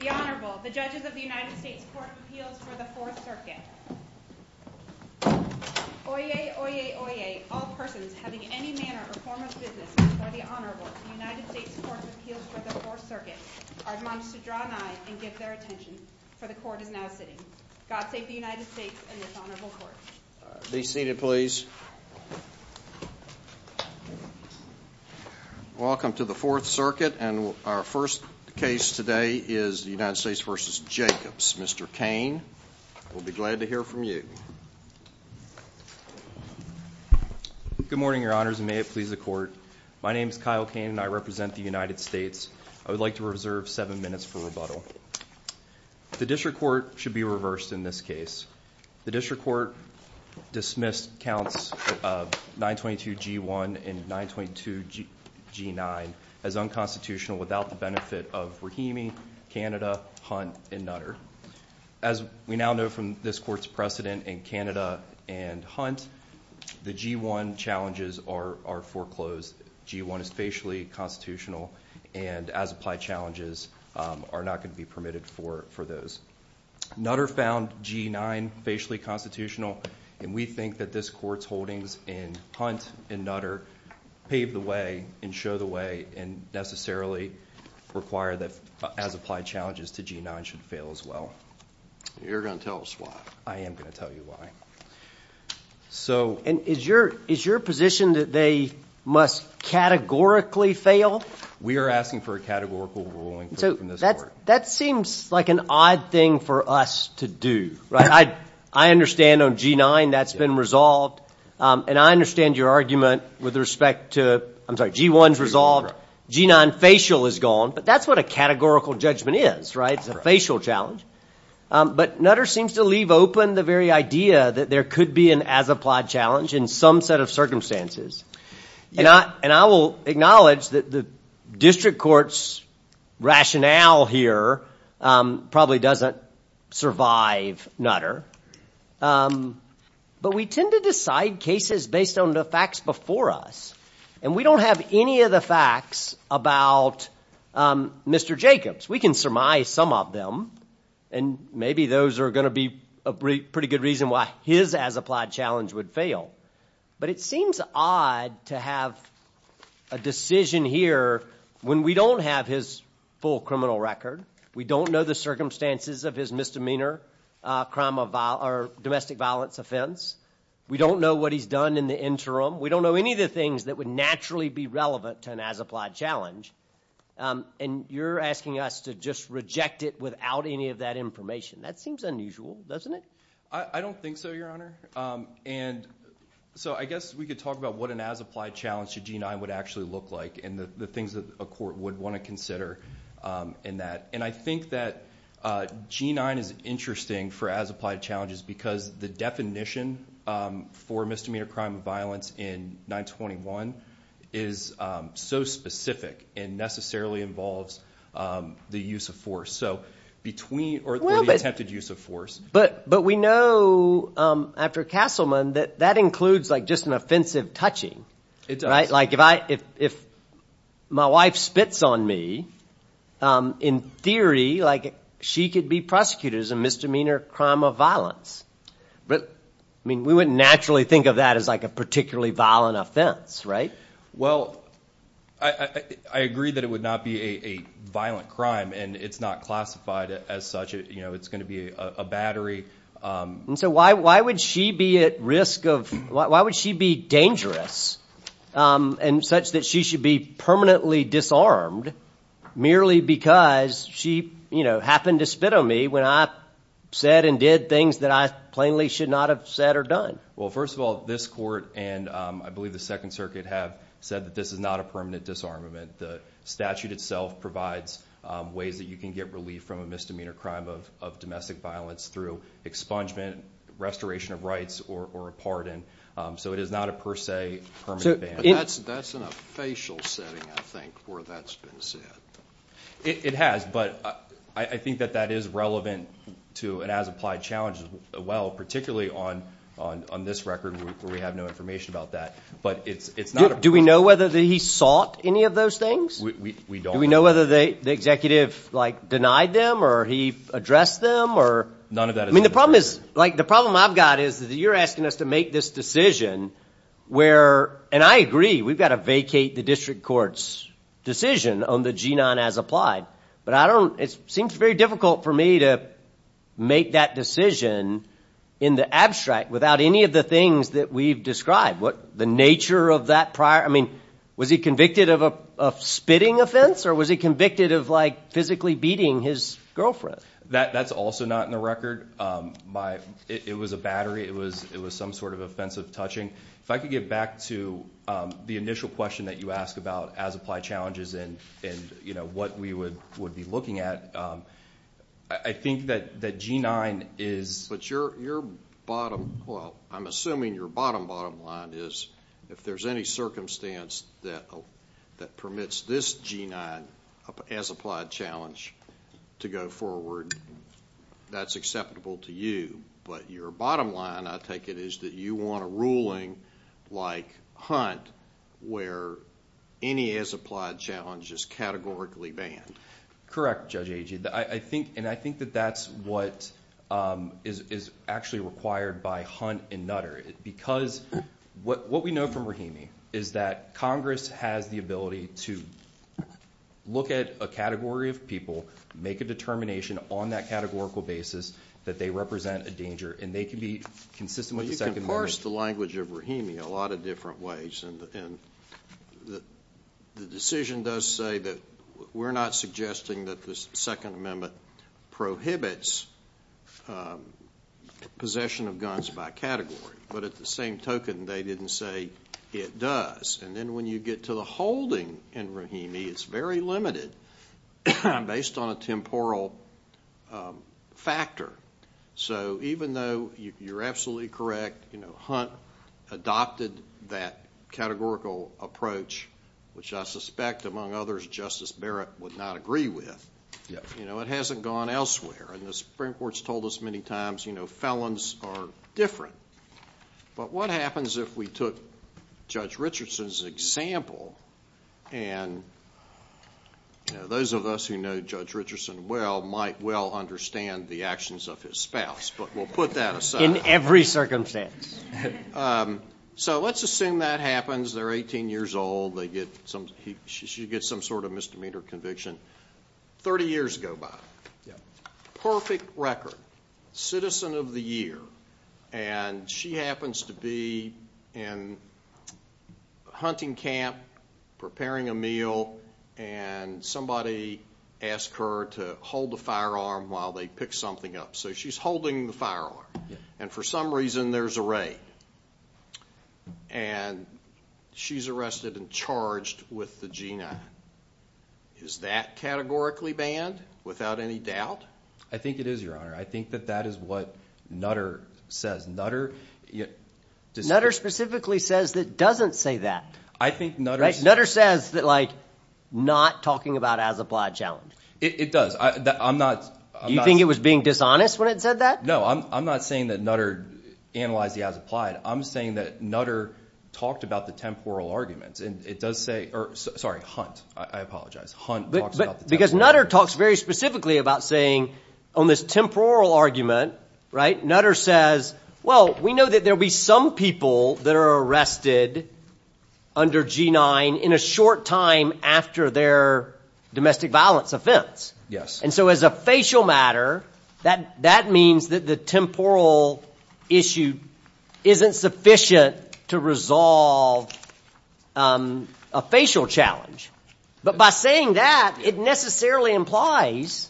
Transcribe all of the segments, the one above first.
The Honorable, the Judges of the United States Court of Appeals for the Fourth Circuit. Oyez, oyez, oyez, all persons having any manner or form of business before the Honorable of the United States Court of Appeals for the Fourth Circuit are admonished to draw nigh and give their attention, for the Court is now sitting. God save the United States and this Honorable Court. Be seated, please. Welcome to the Fourth Circuit and our first case today is the United States v. Jacobs. Mr. Cain, we'll be glad to hear from you. Good morning, Your Honors, and may it please the Court. My name is Kyle Cain and I represent the United States. I would like to reserve seven minutes for rebuttal. The District Court should be reversed in this case. The District Court dismissed counts 922G1 and 922G9 as unconstitutional without the benefit of Rahimi, Canada, Hunt, and Nutter. As we now know from this Court's precedent in Canada and Hunt, the G1 challenges are foreclosed. G1 is facially constitutional and as-applied challenges are not going to be permitted for those. Nutter found G9 facially constitutional and we think that this Court's holdings in Hunt and Nutter pave the way and show the way and necessarily require that as-applied challenges to G9 should fail as well. You're going to tell us why. I am going to tell you why. Is your position that they must categorically fail? We are asking for a categorical ruling from this Court. That seems like an odd thing for us to do, right? I understand on G9 that's been resolved and I understand your argument with respect to G1's resolved, G9 facial is gone, but that's what a categorical judgment is, right? It's a facial challenge. But Nutter seems to leave open the very idea that there could be an as-applied challenge in some set of circumstances. And I will acknowledge that the district court's rationale here probably doesn't survive Nutter. But we tend to decide cases based on the facts before us and we don't have any of the facts about Mr. Jacobs. We can surmise some of them and maybe those are going to be a pretty good reason why his as-applied challenge would fail. But it seems odd to have a decision here when we don't have his full criminal record. We don't know the circumstances of his misdemeanor, domestic violence offense. We don't know what he's done in the interim. We don't know any of the things that would naturally be relevant to an as-applied challenge. And you're asking us to just reject it without any of that information. That seems unusual, doesn't it? I don't think so, Your Honor. And so I guess we could talk about what an as-applied challenge to G9 would actually look like and the things that a court would want to consider in that. And I think that G9 is interesting for as-applied challenges because the definition for misdemeanor crime of violence in 921 is so specific and necessarily involves the use of force. Or the attempted use of force. But we know after Castleman that that includes just an offensive touching. It does. If my wife spits on me, in theory she could be prosecuted as a misdemeanor crime of violence. But we wouldn't naturally think of that as a particularly violent offense, right? Well, I agree that it would not be a violent crime, and it's not classified as such. It's going to be a battery. And so why would she be at risk of – why would she be dangerous and such that she should be permanently disarmed merely because she happened to spit on me when I said and did things that I plainly should not have said or done? Well, first of all, this court and I believe the Second Circuit have said that this is not a permanent disarmament. The statute itself provides ways that you can get relief from a misdemeanor crime of domestic violence through expungement, restoration of rights, or a pardon. So it is not a per se permanent ban. That's in a facial setting, I think, where that's been said. It has, but I think that that is relevant to an as-applied challenge as well, particularly on this record where we have no information about that. But it's not a – Do we know whether he sought any of those things? We don't. Do we know whether the executive denied them or he addressed them or – None of that is – I mean, the problem is – like, the problem I've got is that you're asking us to make this decision where – and I agree. We've got to vacate the district court's decision on the G-9 as applied. But I don't – it seems very difficult for me to make that decision in the abstract without any of the things that we've described. What – the nature of that prior – I mean, was he convicted of a spitting offense or was he convicted of, like, physically beating his girlfriend? That's also not in the record. It was a battery. It was some sort of offensive touching. If I could get back to the initial question that you asked about as-applied challenges and, you know, what we would be looking at, I think that G-9 is – But your bottom – well, I'm assuming your bottom, bottom line is if there's any circumstance that permits this G-9 as-applied challenge to go forward, that's acceptable to you. But your bottom line, I take it, is that you want a ruling like Hunt where any as-applied challenge is categorically banned. Correct, Judge Agee. I think – and I think that that's what is actually required by Hunt and Nutter. Because what we know from Rahimi is that Congress has the ability to look at a category of people, make a determination on that categorical basis that they represent a danger, and they can be consistent with the Second Amendment. Of course, the language of Rahimi, a lot of different ways. And the decision does say that we're not suggesting that the Second Amendment prohibits possession of guns by category. But at the same token, they didn't say it does. And then when you get to the holding in Rahimi, it's very limited based on a temporal factor. So even though you're absolutely correct, Hunt adopted that categorical approach, which I suspect, among others, Justice Barrett would not agree with, it hasn't gone elsewhere. And the Supreme Court's told us many times felons are different. But what happens if we took Judge Richardson's example? And those of us who know Judge Richardson well might well understand the actions of his spouse, but we'll put that aside. In every circumstance. So let's assume that happens. They're 18 years old. They get some – she gets some sort of misdemeanor conviction. Thirty years go by. Perfect record. Citizen of the year. And she happens to be in a hunting camp preparing a meal, and somebody asks her to hold a firearm while they pick something up. So she's holding the firearm. And for some reason, there's a raid. And she's arrested and charged with the G9. Is that categorically banned without any doubt? I think it is, Your Honor. I think that that is what Nutter says. Nutter – Nutter specifically says that it doesn't say that. I think Nutter – Nutter says that, like, not talking about as-applied challenge. It does. I'm not – You think it was being dishonest when it said that? No, I'm not saying that Nutter analyzed the as-applied. I'm saying that Nutter talked about the temporal arguments, and it does say – or sorry, Hunt. I apologize. Hunt talks about the temporal arguments. Because Nutter talks very specifically about saying on this temporal argument, right, Nutter says, well, we know that there will be some people that are arrested under G9 in a short time after their domestic violence offense. Yes. And so as a facial matter, that means that the temporal issue isn't sufficient to resolve a facial challenge. But by saying that, it necessarily implies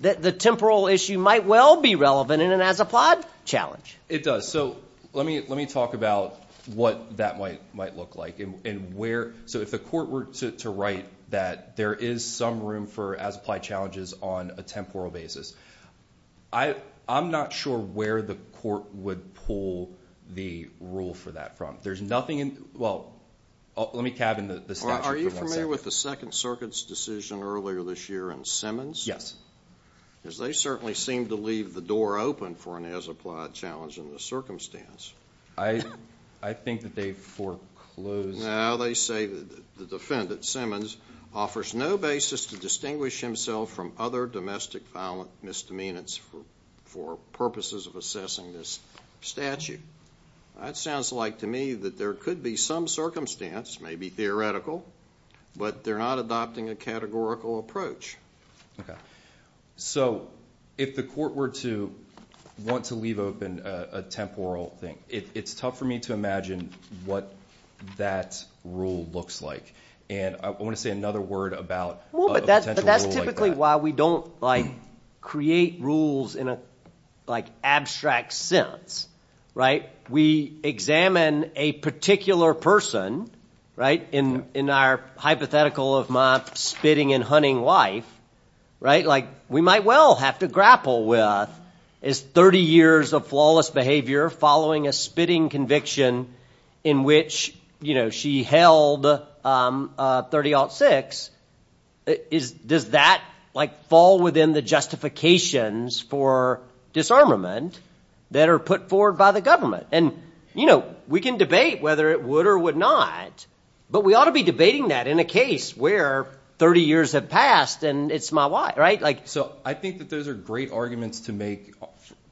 that the temporal issue might well be relevant in an as-applied challenge. It does. So let me talk about what that might look like and where – so if the court were to write that there is some room for as-applied challenges on a temporal basis, I'm not sure where the court would pull the rule for that from. There's nothing in – well, let me cabin the statute for one second. Are you familiar with the Second Circuit's decision earlier this year in Simmons? Yes. Because they certainly seemed to leave the door open for an as-applied challenge in this circumstance. I think that they foreclosed – No, they say that the defendant, Simmons, offers no basis to distinguish himself from other domestic violent misdemeanors for purposes of assessing this statute. That sounds like to me that there could be some circumstance, maybe theoretical, but they're not adopting a categorical approach. Okay. So if the court were to want to leave open a temporal thing, it's tough for me to imagine what that rule looks like. And I want to say another word about a potential rule like that. Basically, while we don't create rules in an abstract sense, we examine a particular person in our hypothetical of my spitting and hunting wife. We might well have to grapple with, is 30 years of flawless behavior following a spitting conviction in which she held 30-06, does that fall within the justifications for disarmament that are put forward by the government? And we can debate whether it would or would not, but we ought to be debating that in a case where 30 years have passed and it's my wife. So I think that those are great arguments to make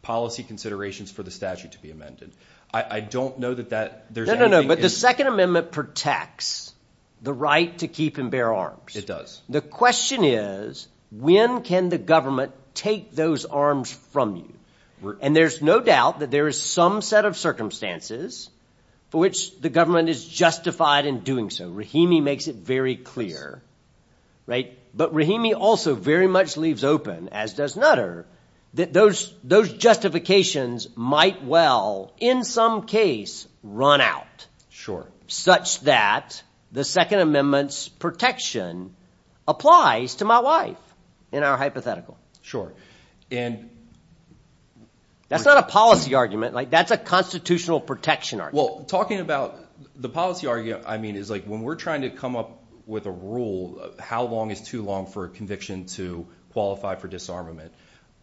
policy considerations for the statute to be amended. I don't know that that – No, no, no, but the Second Amendment protects the right to keep and bear arms. It does. The question is when can the government take those arms from you? And there's no doubt that there is some set of circumstances for which the government is justified in doing so. Rahimi makes it very clear. But Rahimi also very much leaves open, as does Nutter, that those justifications might well in some case run out such that the Second Amendment's protection applies to my wife in our hypothetical. Sure, and – That's not a policy argument. That's a constitutional protection argument. Well, talking about the policy argument, I mean it's like when we're trying to come up with a rule of how long is too long for a conviction to qualify for disarmament,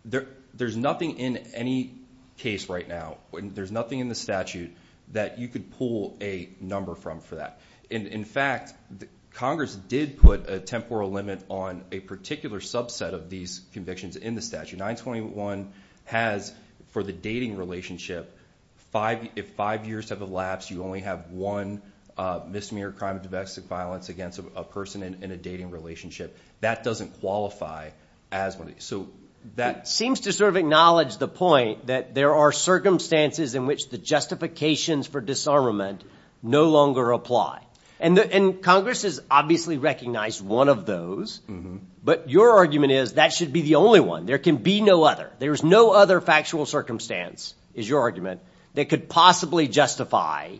there's nothing in any case right now. There's nothing in the statute that you could pull a number from for that. In fact, Congress did put a temporal limit on a particular subset of these convictions in the statute. 921 has, for the dating relationship, if five years have elapsed, you only have one misdemeanor crime of domestic violence against a person in a dating relationship. That doesn't qualify as one. It seems to sort of acknowledge the point that there are circumstances in which the justifications for disarmament no longer apply. And Congress has obviously recognized one of those. But your argument is that should be the only one. There can be no other. There is no other factual circumstance, is your argument, that could possibly justify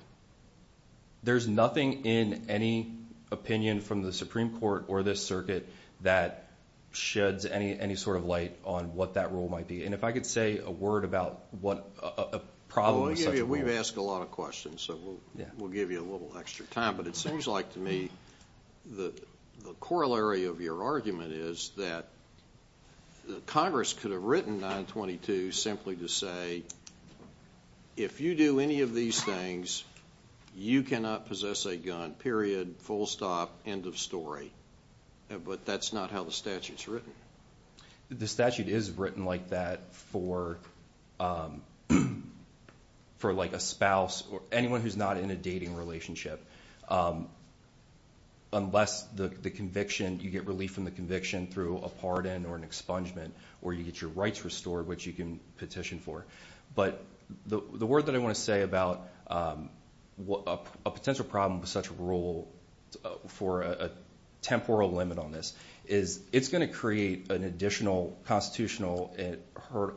– There's nothing in any opinion from the Supreme Court or this circuit that sheds any sort of light on what that rule might be. And if I could say a word about what a problem with such a rule – Well, we've asked a lot of questions, so we'll give you a little extra time. But it seems like to me the corollary of your argument is that Congress could have written 922 simply to say, if you do any of these things, you cannot possess a gun, period, full stop, end of story. But that's not how the statute's written. The statute is written like that for a spouse or anyone who's not in a dating relationship. Unless the conviction – you get relief from the conviction through a pardon or an expungement, or you get your rights restored, which you can petition for. But the word that I want to say about a potential problem with such a rule for a temporal limit on this is it's going to create an additional constitutional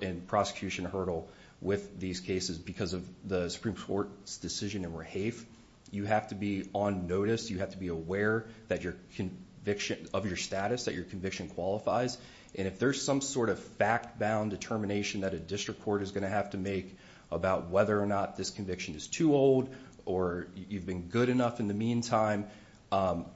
and prosecution hurdle with these cases because of the Supreme Court's decision in Rehaef. You have to be on notice. You have to be aware of your status, that your conviction qualifies. And if there's some sort of fact-bound determination that a district court is going to have to make about whether or not this conviction is too old or you've been good enough in the meantime, I'm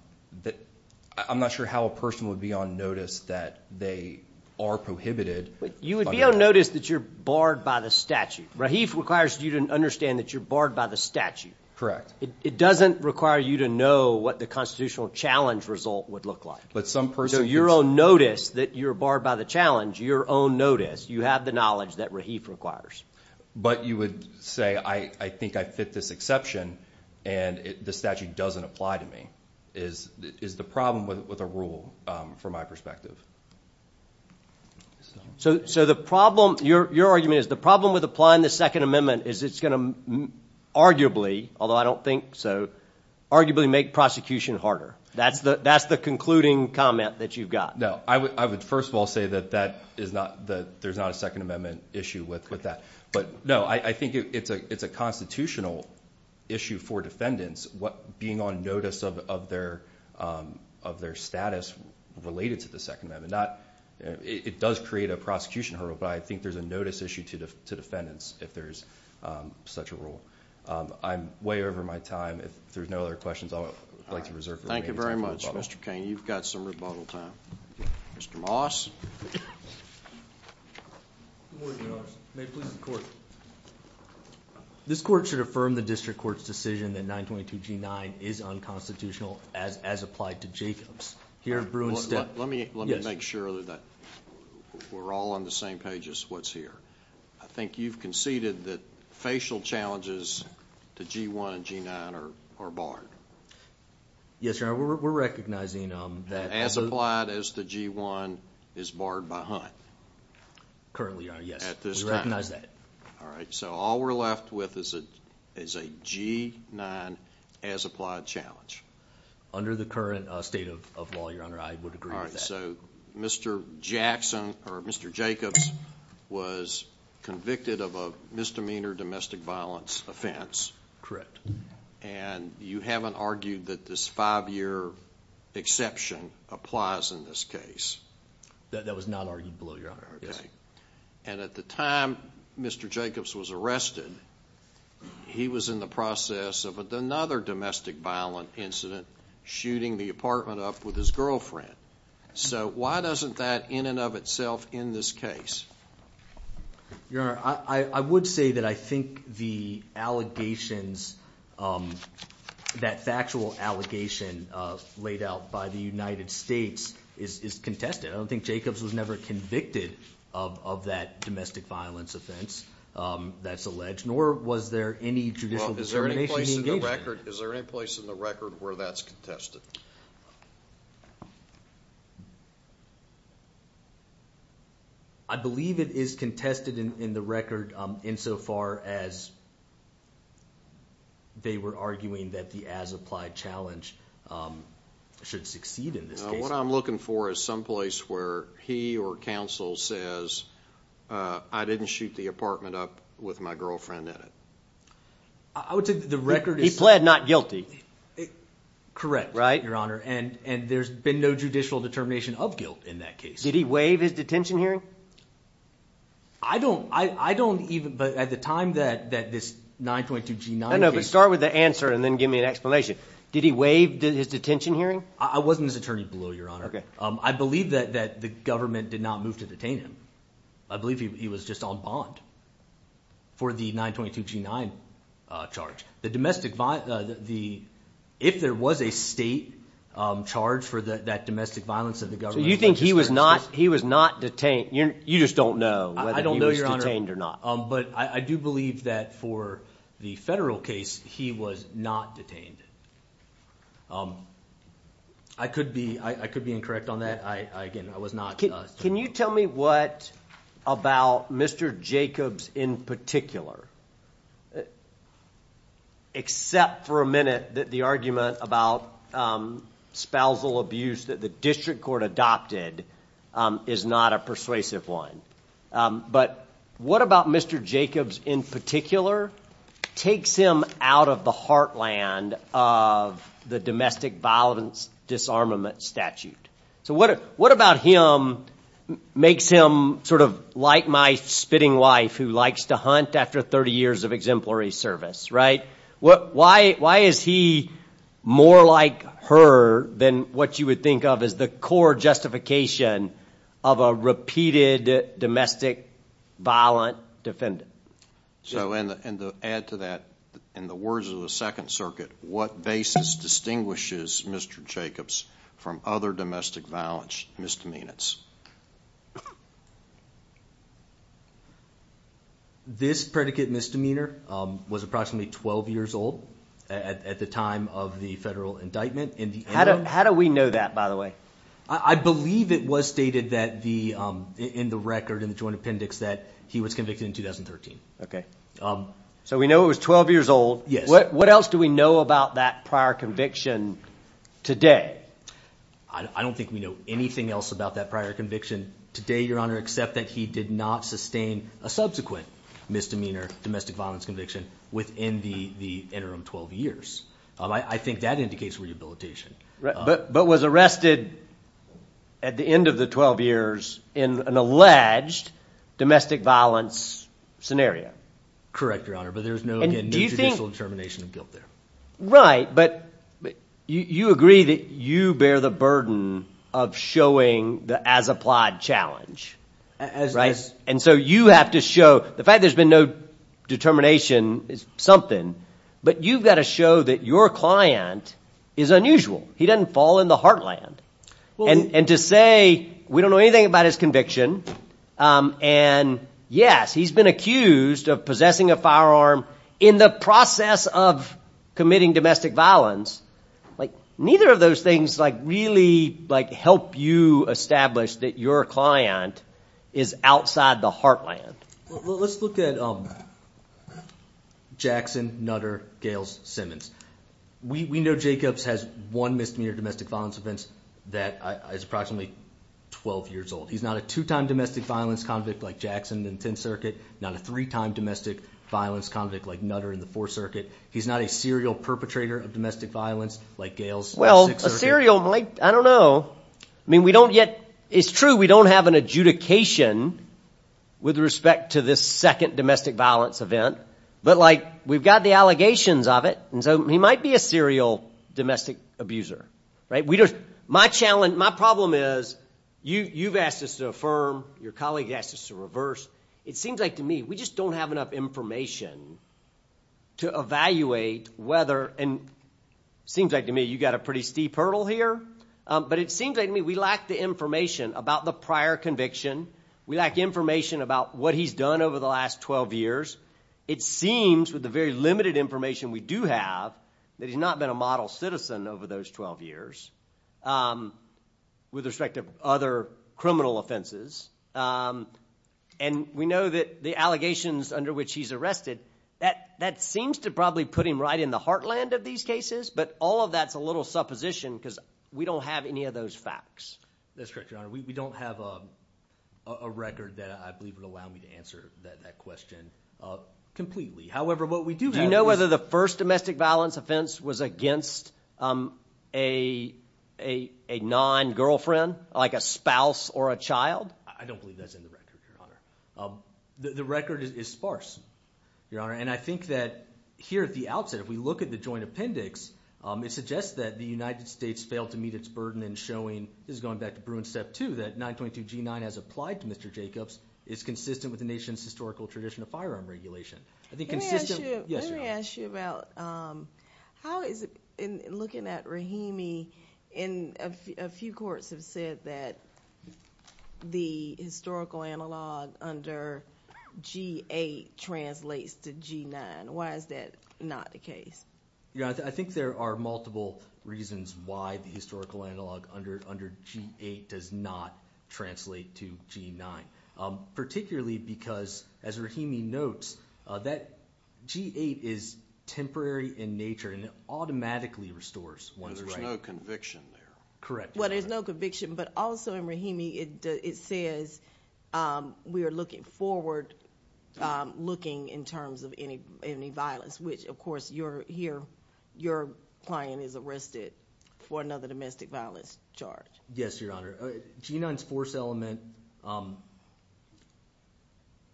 not sure how a person would be on notice that they are prohibited. But you would be on notice that you're barred by the statute. Rehaef requires you to understand that you're barred by the statute. Correct. It doesn't require you to know what the constitutional challenge result would look like. But some person – So your own notice that you're barred by the challenge, your own notice, you have the knowledge that Rehaef requires. But you would say I think I fit this exception and the statute doesn't apply to me is the problem with a rule from my perspective. So the problem – your argument is the problem with applying the Second Amendment is it's going to arguably, although I don't think so, arguably make prosecution harder. That's the concluding comment that you've got. No, I would first of all say that there's not a Second Amendment issue with that. But no, I think it's a constitutional issue for defendants being on notice of their status related to the Second Amendment. It does create a prosecution hurdle, but I think there's a notice issue to defendants if there's such a rule. I'm way over my time. If there's no other questions, I'd like to reserve the remaining time for rebuttal. Mr. Cain, you've got some rebuttal time. Mr. Moss. Good morning, Your Honor. May it please the Court. This Court should affirm the District Court's decision that 922 G-9 is unconstitutional as applied to Jacobs. Let me make sure that we're all on the same page as what's here. I think you've conceded that facial challenges to G-1 and G-9 are barred. Yes, Your Honor, we're recognizing that. As applied as the G-1 is barred by Hunt. Currently, Your Honor, yes. We recognize that. All right, so all we're left with is a G-9 as applied challenge. Under the current state of law, Your Honor, I would agree with that. All right, so Mr. Jacobs was convicted of a misdemeanor domestic violence offense. Correct. And you haven't argued that this five-year exception applies in this case? That was not argued below Your Honor. Okay. And at the time Mr. Jacobs was arrested, he was in the process of another domestic violence incident, shooting the apartment up with his girlfriend. So why doesn't that, in and of itself, end this case? Your Honor, I would say that I think the allegations, that factual allegation laid out by the United States is contested. I don't think Jacobs was never convicted of that domestic violence offense that's alleged, nor was there any judicial determination he engaged in. Is there any place in the record where that's contested? I believe it is contested in the record insofar as they were arguing that the as applied challenge should succeed in this case. What I'm looking for is some place where he or counsel says, I didn't shoot the apartment up with my girlfriend in it. I would say the record is— He pled not guilty. Correct. Right. Your Honor, and there's been no judicial determination of guilt in that case. Did he waive his detention hearing? I don't even, but at the time that this 922 G9 case— No, no, but start with the answer and then give me an explanation. Did he waive his detention hearing? I wasn't his attorney below, Your Honor. Okay. I believe that the government did not move to detain him. I believe he was just on bond for the 922 G9 charge. The domestic—if there was a state charge for that domestic violence of the government— So you think he was not detained? You just don't know whether he was detained or not. I don't know, Your Honor, but I do believe that for the federal case, he was not detained. I could be incorrect on that. Again, I was not— Can you tell me what about Mr. Jacobs in particular? Except for a minute that the argument about spousal abuse that the district court adopted is not a persuasive one. But what about Mr. Jacobs in particular takes him out of the heartland of the domestic violence disarmament statute? So what about him makes him sort of like my spitting wife who likes to hunt after 30 years of exemplary service, right? Why is he more like her than what you would think of as the core justification of a repeated domestic violent defendant? And to add to that, in the words of the Second Circuit, what basis distinguishes Mr. Jacobs from other domestic violence misdemeanors? This predicate misdemeanor was approximately 12 years old at the time of the federal indictment. How do we know that, by the way? I believe it was stated in the record in the joint appendix that he was convicted in 2013. Okay. So we know it was 12 years old. Yes. What else do we know about that prior conviction today? I don't think we know anything else about that prior conviction today, Your Honor, except that he did not sustain a subsequent misdemeanor domestic violence conviction within the interim 12 years. I think that indicates rehabilitation. But was arrested at the end of the 12 years in an alleged domestic violence scenario. Correct, Your Honor, but there's no, again, no judicial determination of guilt there. Right, but you agree that you bear the burden of showing the as-applied challenge, right? And so you have to show the fact there's been no determination is something, but you've got to show that your client is unusual. He doesn't fall in the heartland. And to say we don't know anything about his conviction and, yes, he's been accused of possessing a firearm in the process of committing domestic violence, neither of those things really help you establish that your client is outside the heartland. Let's look at Jackson, Nutter, Gales, Simmons. We know Jacobs has one misdemeanor domestic violence offense that is approximately 12 years old. He's not a two-time domestic violence convict like Jackson in the 10th Circuit, not a three-time domestic violence convict like Nutter in the 4th Circuit. He's not a serial perpetrator of domestic violence like Gales in the 6th Circuit. Well, a serial, I don't know. It's true we don't have an adjudication with respect to this second domestic violence event, but, like, we've got the allegations of it, and so he might be a serial domestic abuser. My problem is you've asked us to affirm. Your colleague has asked us to reverse. It seems like to me we just don't have enough information to evaluate whether, and it seems like to me you've got a pretty steep hurdle here, but it seems like to me we lack the information about the prior conviction. We lack information about what he's done over the last 12 years. It seems, with the very limited information we do have, that he's not been a model citizen over those 12 years with respect to other criminal offenses, and we know that the allegations under which he's arrested, that seems to probably put him right in the heartland of these cases, but all of that's a little supposition because we don't have any of those facts. That's correct, Your Honor. We don't have a record that I believe would allow me to answer that question completely. However, what we do have is— Do you know whether the first domestic violence offense was against a non-girlfriend, like a spouse or a child? I don't believe that's in the record, Your Honor. The record is sparse, Your Honor, and I think that here at the outset if we look at the joint appendix, it suggests that the United States failed to meet its burden in showing— this is going back to Bruin Step 2— that 922 G-9 as applied to Mr. Jacobs is consistent with the nation's historical tradition of firearm regulation. Let me ask you about how is it, in looking at Rahimi, and a few courts have said that the historical analog under G-8 translates to G-9. Why is that not the case? Your Honor, I think there are multiple reasons why the historical analog under G-8 does not translate to G-9, particularly because, as Rahimi notes, that G-8 is temporary in nature and it automatically restores one's right. There's no conviction there. Correct. Well, there's no conviction, but also in Rahimi it says we are looking forward, looking in terms of any violence, which, of course, your client is arrested for another domestic violence charge. Yes, Your Honor. G-9's force element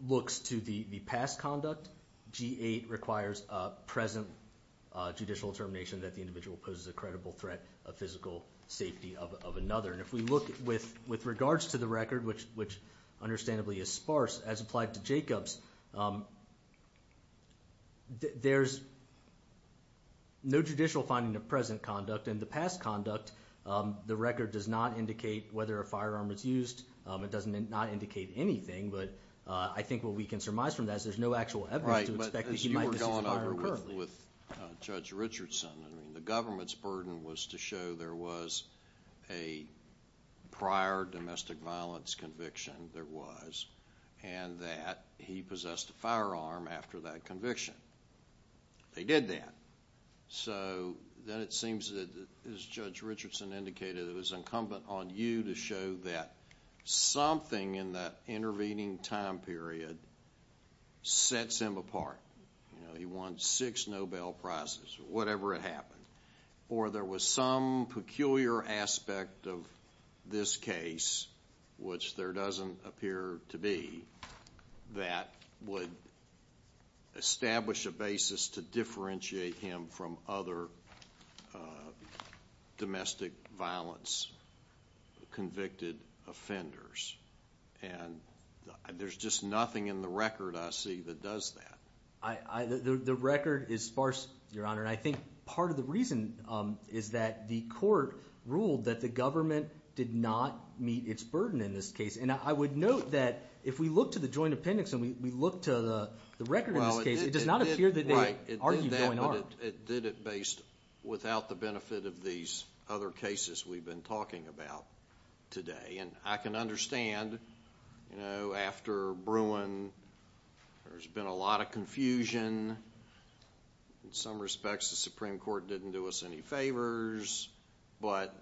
looks to the past conduct. G-8 requires a present judicial determination that the individual poses a credible threat of physical safety of another. And if we look with regards to the record, which understandably is sparse, as applied to Jacobs, there's no judicial finding of present conduct. In the past conduct, the record does not indicate whether a firearm was used. It does not indicate anything, but I think what we can surmise from that is there's no actual evidence to expect that he might possess a firearm currently. Right, but as you were going over with Judge Richardson, the government's burden was to show there was a prior domestic violence conviction there was and that he possessed a firearm after that conviction. They did that. So then it seems that, as Judge Richardson indicated, it was incumbent on you to show that something in that intervening time period sets him apart. He won six Nobel Prizes or whatever had happened. Or there was some peculiar aspect of this case, which there doesn't appear to be, that would establish a basis to differentiate him from other domestic violence convicted offenders. And there's just nothing in the record I see that does that. The record is sparse, Your Honor, and I think part of the reason is that the court ruled that the government did not meet its burden in this case. And I would note that if we look to the joint appendix and we look to the record in this case, it does not appear that they argued going on. It did that, but it did it without the benefit of these other cases we've been talking about today. And I can understand after Bruin there's been a lot of confusion. In some respects the Supreme Court didn't do us any favors. But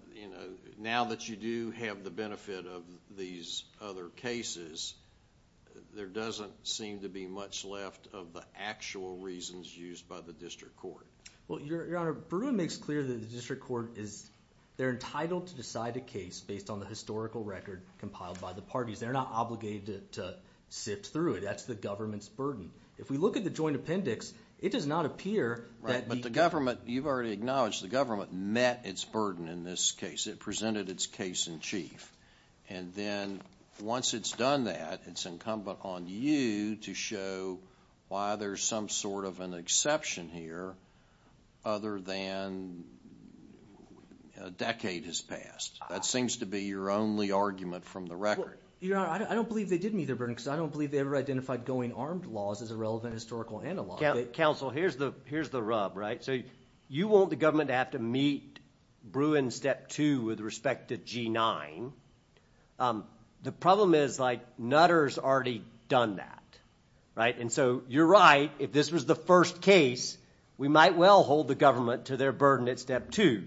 now that you do have the benefit of these other cases, there doesn't seem to be much left of the actual reasons used by the district court. Well, Your Honor, Bruin makes clear that the district court is entitled to decide a case based on the historical record compiled by the parties. They're not obligated to sift through it. That's the government's burden. If we look at the joint appendix, it does not appear that the government, you've already acknowledged the government met its burden in this case. It presented its case in chief. And then once it's done that, it's incumbent on you to show why there's some sort of an exception here other than a decade has passed. That seems to be your only argument from the record. Your Honor, I don't believe they didn't meet their burden because I don't believe they ever identified going armed laws as a relevant historical analog. Counsel, here's the rub, right? So you want the government to have to meet Bruin's Step 2 with respect to G9. The problem is, like, Nutter's already done that, right? And so you're right. If this was the first case, we might well hold the government to their burden at Step 2.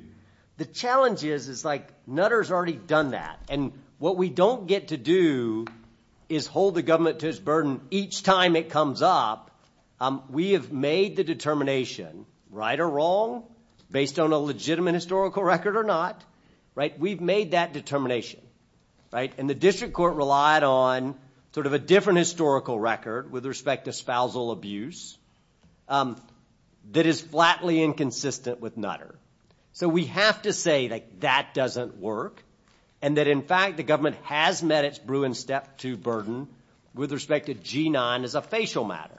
The challenge is, like, Nutter's already done that. And what we don't get to do is hold the government to its burden each time it comes up. We have made the determination, right or wrong, based on a legitimate historical record or not, right? We've made that determination, right? And the district court relied on sort of a different historical record with respect to spousal abuse that is flatly inconsistent with Nutter. So we have to say, like, that doesn't work and that, in fact, the government has met its Bruin's Step 2 burden with respect to G9 as a facial matter.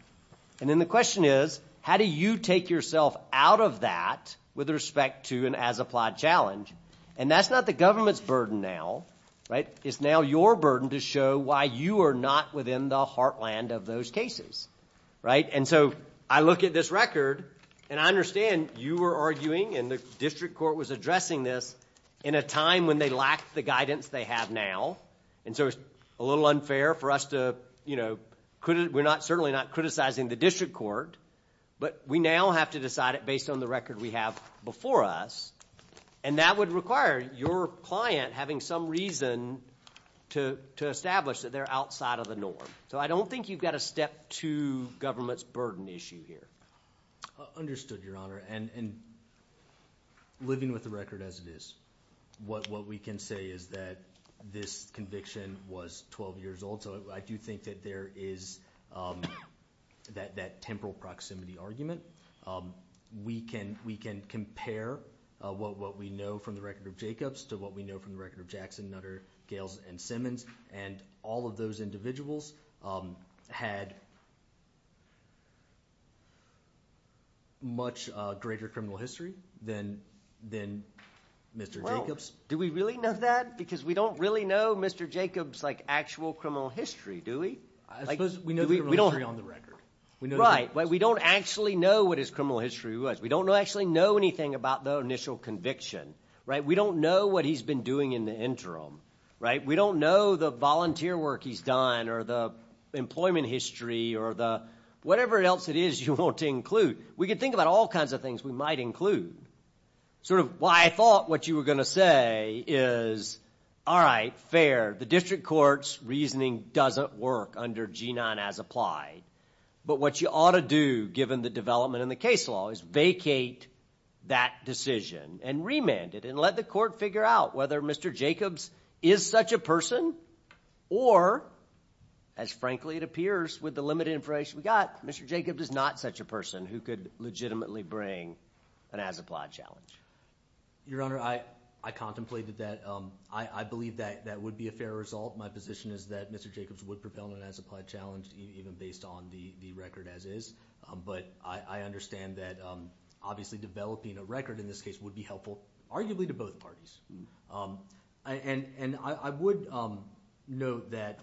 And then the question is, how do you take yourself out of that with respect to an as-applied challenge? And that's not the government's burden now, right? It's now your burden to show why you are not within the heartland of those cases, right? And so I look at this record, and I understand you were arguing, and the district court was addressing this in a time when they lacked the guidance they have now. And so it's a little unfair for us to, you know, we're certainly not criticizing the district court, but we now have to decide it based on the record we have before us, and that would require your client having some reason to establish that they're outside of the norm. So I don't think you've got a Step 2 government's burden issue here. I understood, Your Honor, and living with the record as it is, what we can say is that this conviction was 12 years old, so I do think that there is that temporal proximity argument. We can compare what we know from the record of Jacobs to what we know from the record of Jackson, Nutter, Gales, and Simmons, and all of those individuals had much greater criminal history than Mr. Jacobs. Well, do we really know that? Because we don't really know Mr. Jacobs' actual criminal history, do we? I suppose we know his criminal history on the record. Right, but we don't actually know what his criminal history was. We don't actually know anything about the initial conviction, right? We don't know what he's been doing in the interim, right? We don't know the volunteer work he's done or the employment history or the whatever else it is you want to include. We can think about all kinds of things we might include. Sort of why I thought what you were going to say is, all right, fair. The district court's reasoning doesn't work under G-9 as applied. But what you ought to do, given the development in the case law, is vacate that decision and remand it and let the court figure out whether Mr. Jacobs is such a person or, as frankly it appears with the limited information we've got, Mr. Jacobs is not such a person who could legitimately bring an as-applied challenge. Your Honor, I contemplated that. I believe that that would be a fair result. My position is that Mr. Jacobs would propel an as-applied challenge even based on the record as-is. But I understand that obviously developing a record in this case would be helpful, arguably, to both parties. And I would note that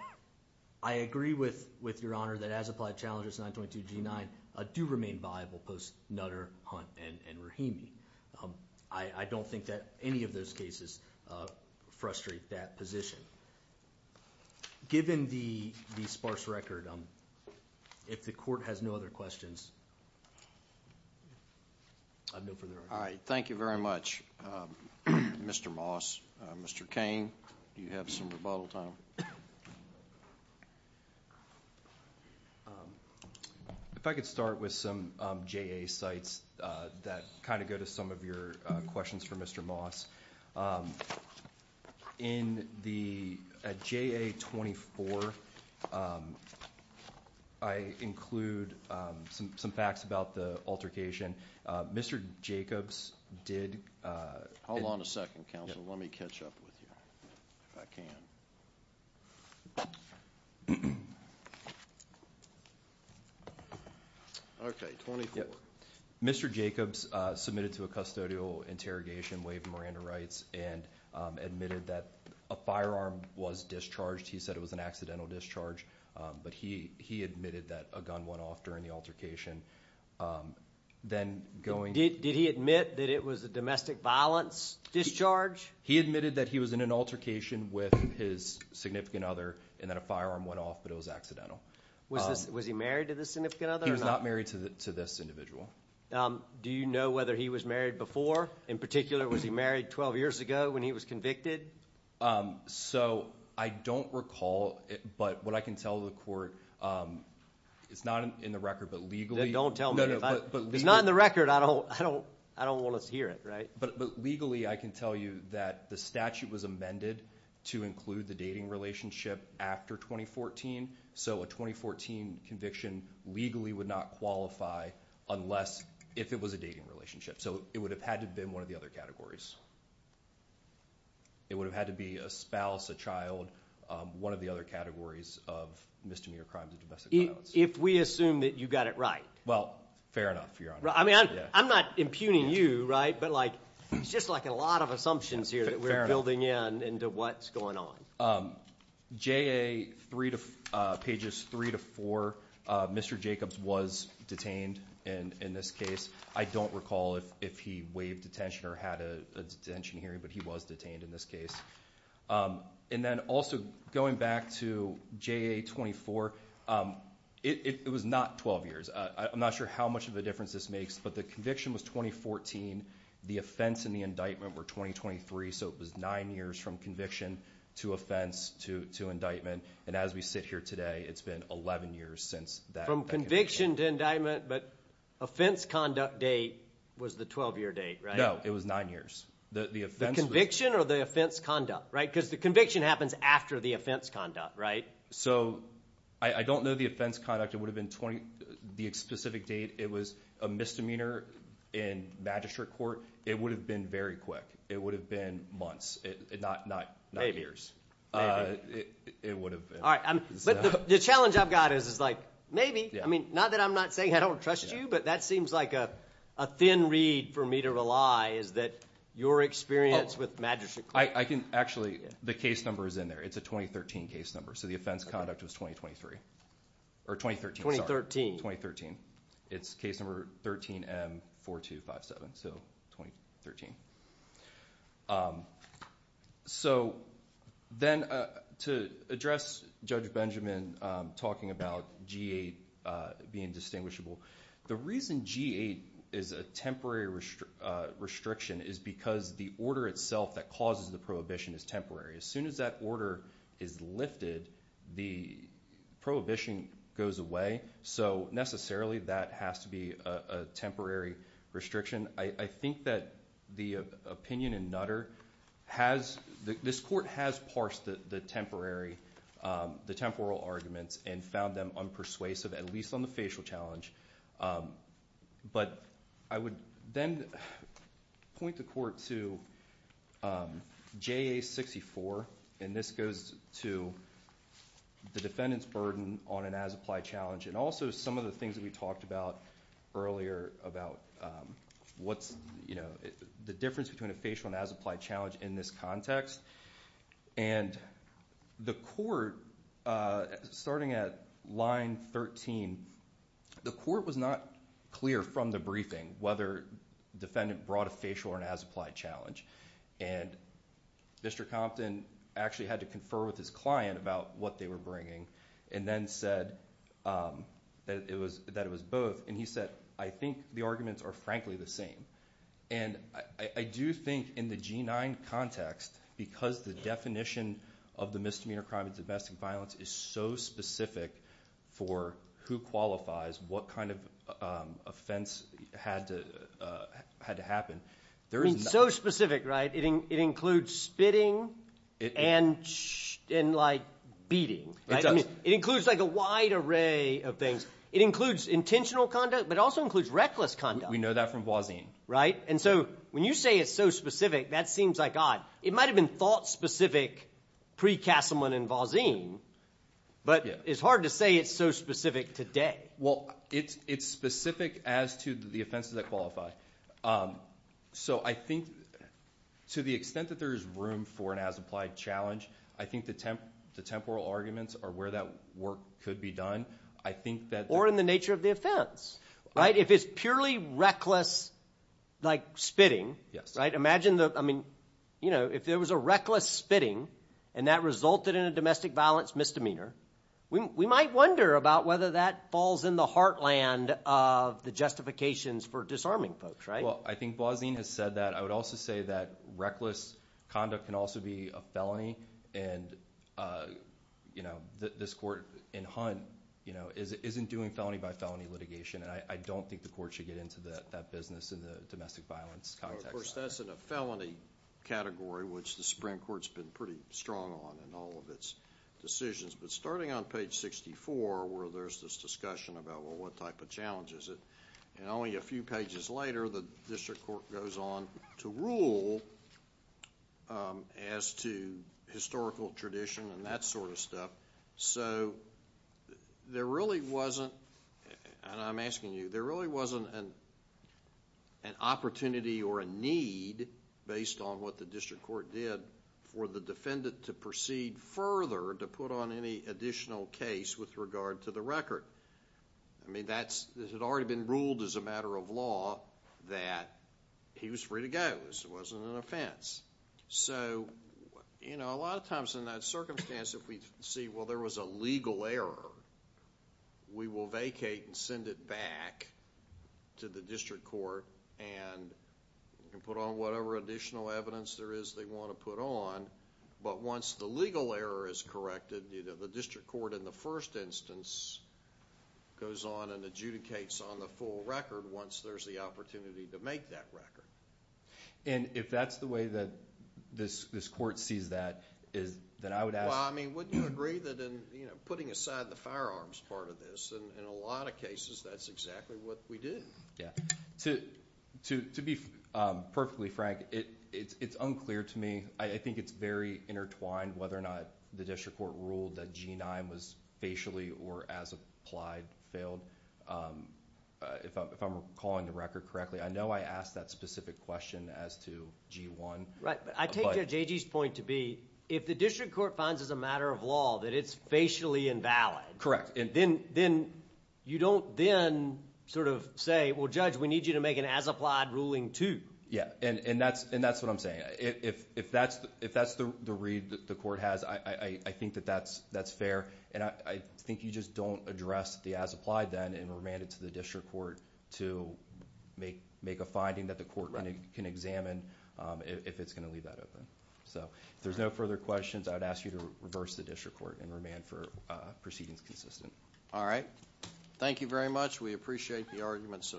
I agree with Your Honor that as-applied challenges in 922 G-9 do remain viable post-Nutter, Hunt, and Rahimi. I don't think that any of those cases frustrate that position. Given the sparse record, if the court has no other questions, I'd move for the record. All right. Thank you very much, Mr. Moss. Mr. Cain, do you have some rebuttal time? If I could start with some JA sites that kind of go to some of your questions for Mr. Moss. In the JA-24, I include some facts about the altercation. Mr. Jacobs did— Hold on a second, counsel. Let me catch up with you, if I can. Okay, 24. Mr. Jacobs submitted to a custodial interrogation, waived Miranda rights, and admitted that a firearm was discharged. He said it was an accidental discharge, but he admitted that a gun went off during the altercation. Then going— Did he admit that it was a domestic violence discharge? He admitted that he was in an altercation with his significant other and that a firearm went off, but it was accidental. Was he married to this significant other or not? He was not married to this individual. Do you know whether he was married before? In particular, was he married 12 years ago when he was convicted? So I don't recall, but what I can tell the court—it's not in the record, but legally— Then don't tell me. If it's not in the record, I don't want to hear it, right? But legally, I can tell you that the statute was amended to include the dating relationship after 2014, so a 2014 conviction legally would not qualify unless—if it was a dating relationship. So it would have had to have been one of the other categories. It would have had to be a spouse, a child, one of the other categories of misdemeanor crimes of domestic violence. If we assume that you got it right? Well, fair enough, Your Honor. I mean, I'm not impugning you, right? But it's just like a lot of assumptions here that we're building in into what's going on. J.A., pages 3 to 4, Mr. Jacobs was detained in this case. I don't recall if he waived detention or had a detention hearing, but he was detained in this case. And then also going back to J.A. 24, it was not 12 years. I'm not sure how much of a difference this makes, but the conviction was 2014. The offense and the indictment were 2023, so it was nine years from conviction to offense to indictment. And as we sit here today, it's been 11 years since that— From conviction to indictment, but offense conduct date was the 12-year date, right? No, it was nine years. The conviction or the offense conduct, right? Because the conviction happens after the offense conduct, right? So I don't know the offense conduct. It would have been the specific date. It was a misdemeanor in magistrate court. It would have been very quick. It would have been months, not years. It would have been. All right, but the challenge I've got is like maybe. I mean, not that I'm not saying I don't trust you, but that seems like a thin reed for me to rely is that your experience with magistrate court— Actually, the case number is in there. It's a 2013 case number, so the offense conduct was 2023. Or 2013, sorry. It's case number 13M4257, so 2013. So then to address Judge Benjamin talking about G-8 being distinguishable, the reason G-8 is a temporary restriction is because the order itself that causes the prohibition is temporary. As soon as that order is lifted, the prohibition goes away. So necessarily, that has to be a temporary restriction. I think that the opinion in Nutter has—this court has parsed the temporary, the temporal arguments and found them unpersuasive, at least on the facial challenge. But I would then point the court to JA-64, and this goes to the defendant's burden on an as-applied challenge, and also some of the things that we talked about earlier about what's the difference between a facial and as-applied challenge in this context. And the court, starting at line 13, the court was not clear from the briefing whether the defendant brought a facial or an as-applied challenge. And Mr. Compton actually had to confer with his client about what they were bringing, and then said that it was both. And he said, I think the arguments are frankly the same. And I do think in the G-9 context, because the definition of the misdemeanor crime of domestic violence is so specific for who qualifies, what kind of offense had to happen, there is— So specific, right? It includes spitting and beating. It does. It includes a wide array of things. It includes intentional conduct, but it also includes reckless conduct. We know that from Voisin. Right? And so when you say it's so specific, that seems like odd. It might have been thought-specific pre-Cassellman and Voisin, but it's hard to say it's so specific today. Well, it's specific as to the offenses that qualify. So I think to the extent that there is room for an as-applied challenge, I think the temporal arguments are where that work could be done. I think that— Or in the nature of the offense, right? If it's purely reckless, like spitting— Imagine—I mean, if there was a reckless spitting and that resulted in a domestic violence misdemeanor, we might wonder about whether that falls in the heartland of the justifications for disarming folks, right? Well, I think Voisin has said that. I would also say that reckless conduct can also be a felony, and this court in Hunt isn't doing felony-by-felony litigation, and I don't think the court should get into that business in the domestic violence context. Well, of course, that's in a felony category, which the Supreme Court's been pretty strong on in all of its decisions. But starting on page 64, where there's this discussion about, well, what type of challenge is it? And only a few pages later, the district court goes on to rule as to historical tradition and that sort of stuff. So, there really wasn't—and I'm asking you—there really wasn't an opportunity or a need, based on what the district court did, for the defendant to proceed further to put on any additional case with regard to the record. I mean, it had already been ruled as a matter of law that he was free to go. It wasn't an offense. So, you know, a lot of times in that circumstance, if we see, well, there was a legal error, we will vacate and send it back to the district court and put on whatever additional evidence there is they want to put on. But once the legal error is corrected, the district court in the first instance goes on and adjudicates on the full record once there's the opportunity to make that record. And if that's the way that this court sees that, then I would ask— Well, I mean, wouldn't you agree that putting aside the firearms part of this, in a lot of cases, that's exactly what we do. Yeah. To be perfectly frank, it's unclear to me. I think it's very intertwined whether or not the district court ruled that G-9 was facially or as applied failed. If I'm recalling the record correctly, I know I asked that specific question as to G-1. Right. I take Judge Agee's point to be if the district court finds as a matter of law that it's facially invalid— Correct. Then you don't then sort of say, well, Judge, we need you to make an as applied ruling too. Yeah. And that's what I'm saying. If that's the read that the court has, I think that that's fair. And I think you just don't address the as applied then and remand it to the district court to make a finding that the court can examine if it's going to leave that open. So, if there's no further questions, I would ask you to reverse the district court and remand for proceedings consistent. All right. Thank you very much. We appreciate the arguments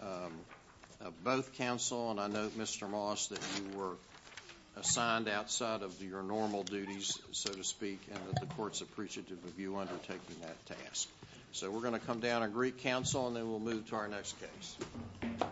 of both counsel. And I note, Mr. Moss, that you were assigned outside of your normal duties, so to speak, and that the court's appreciative of you undertaking that task. So, we're going to come down and greet counsel, and then we'll move to our next case. Thank you.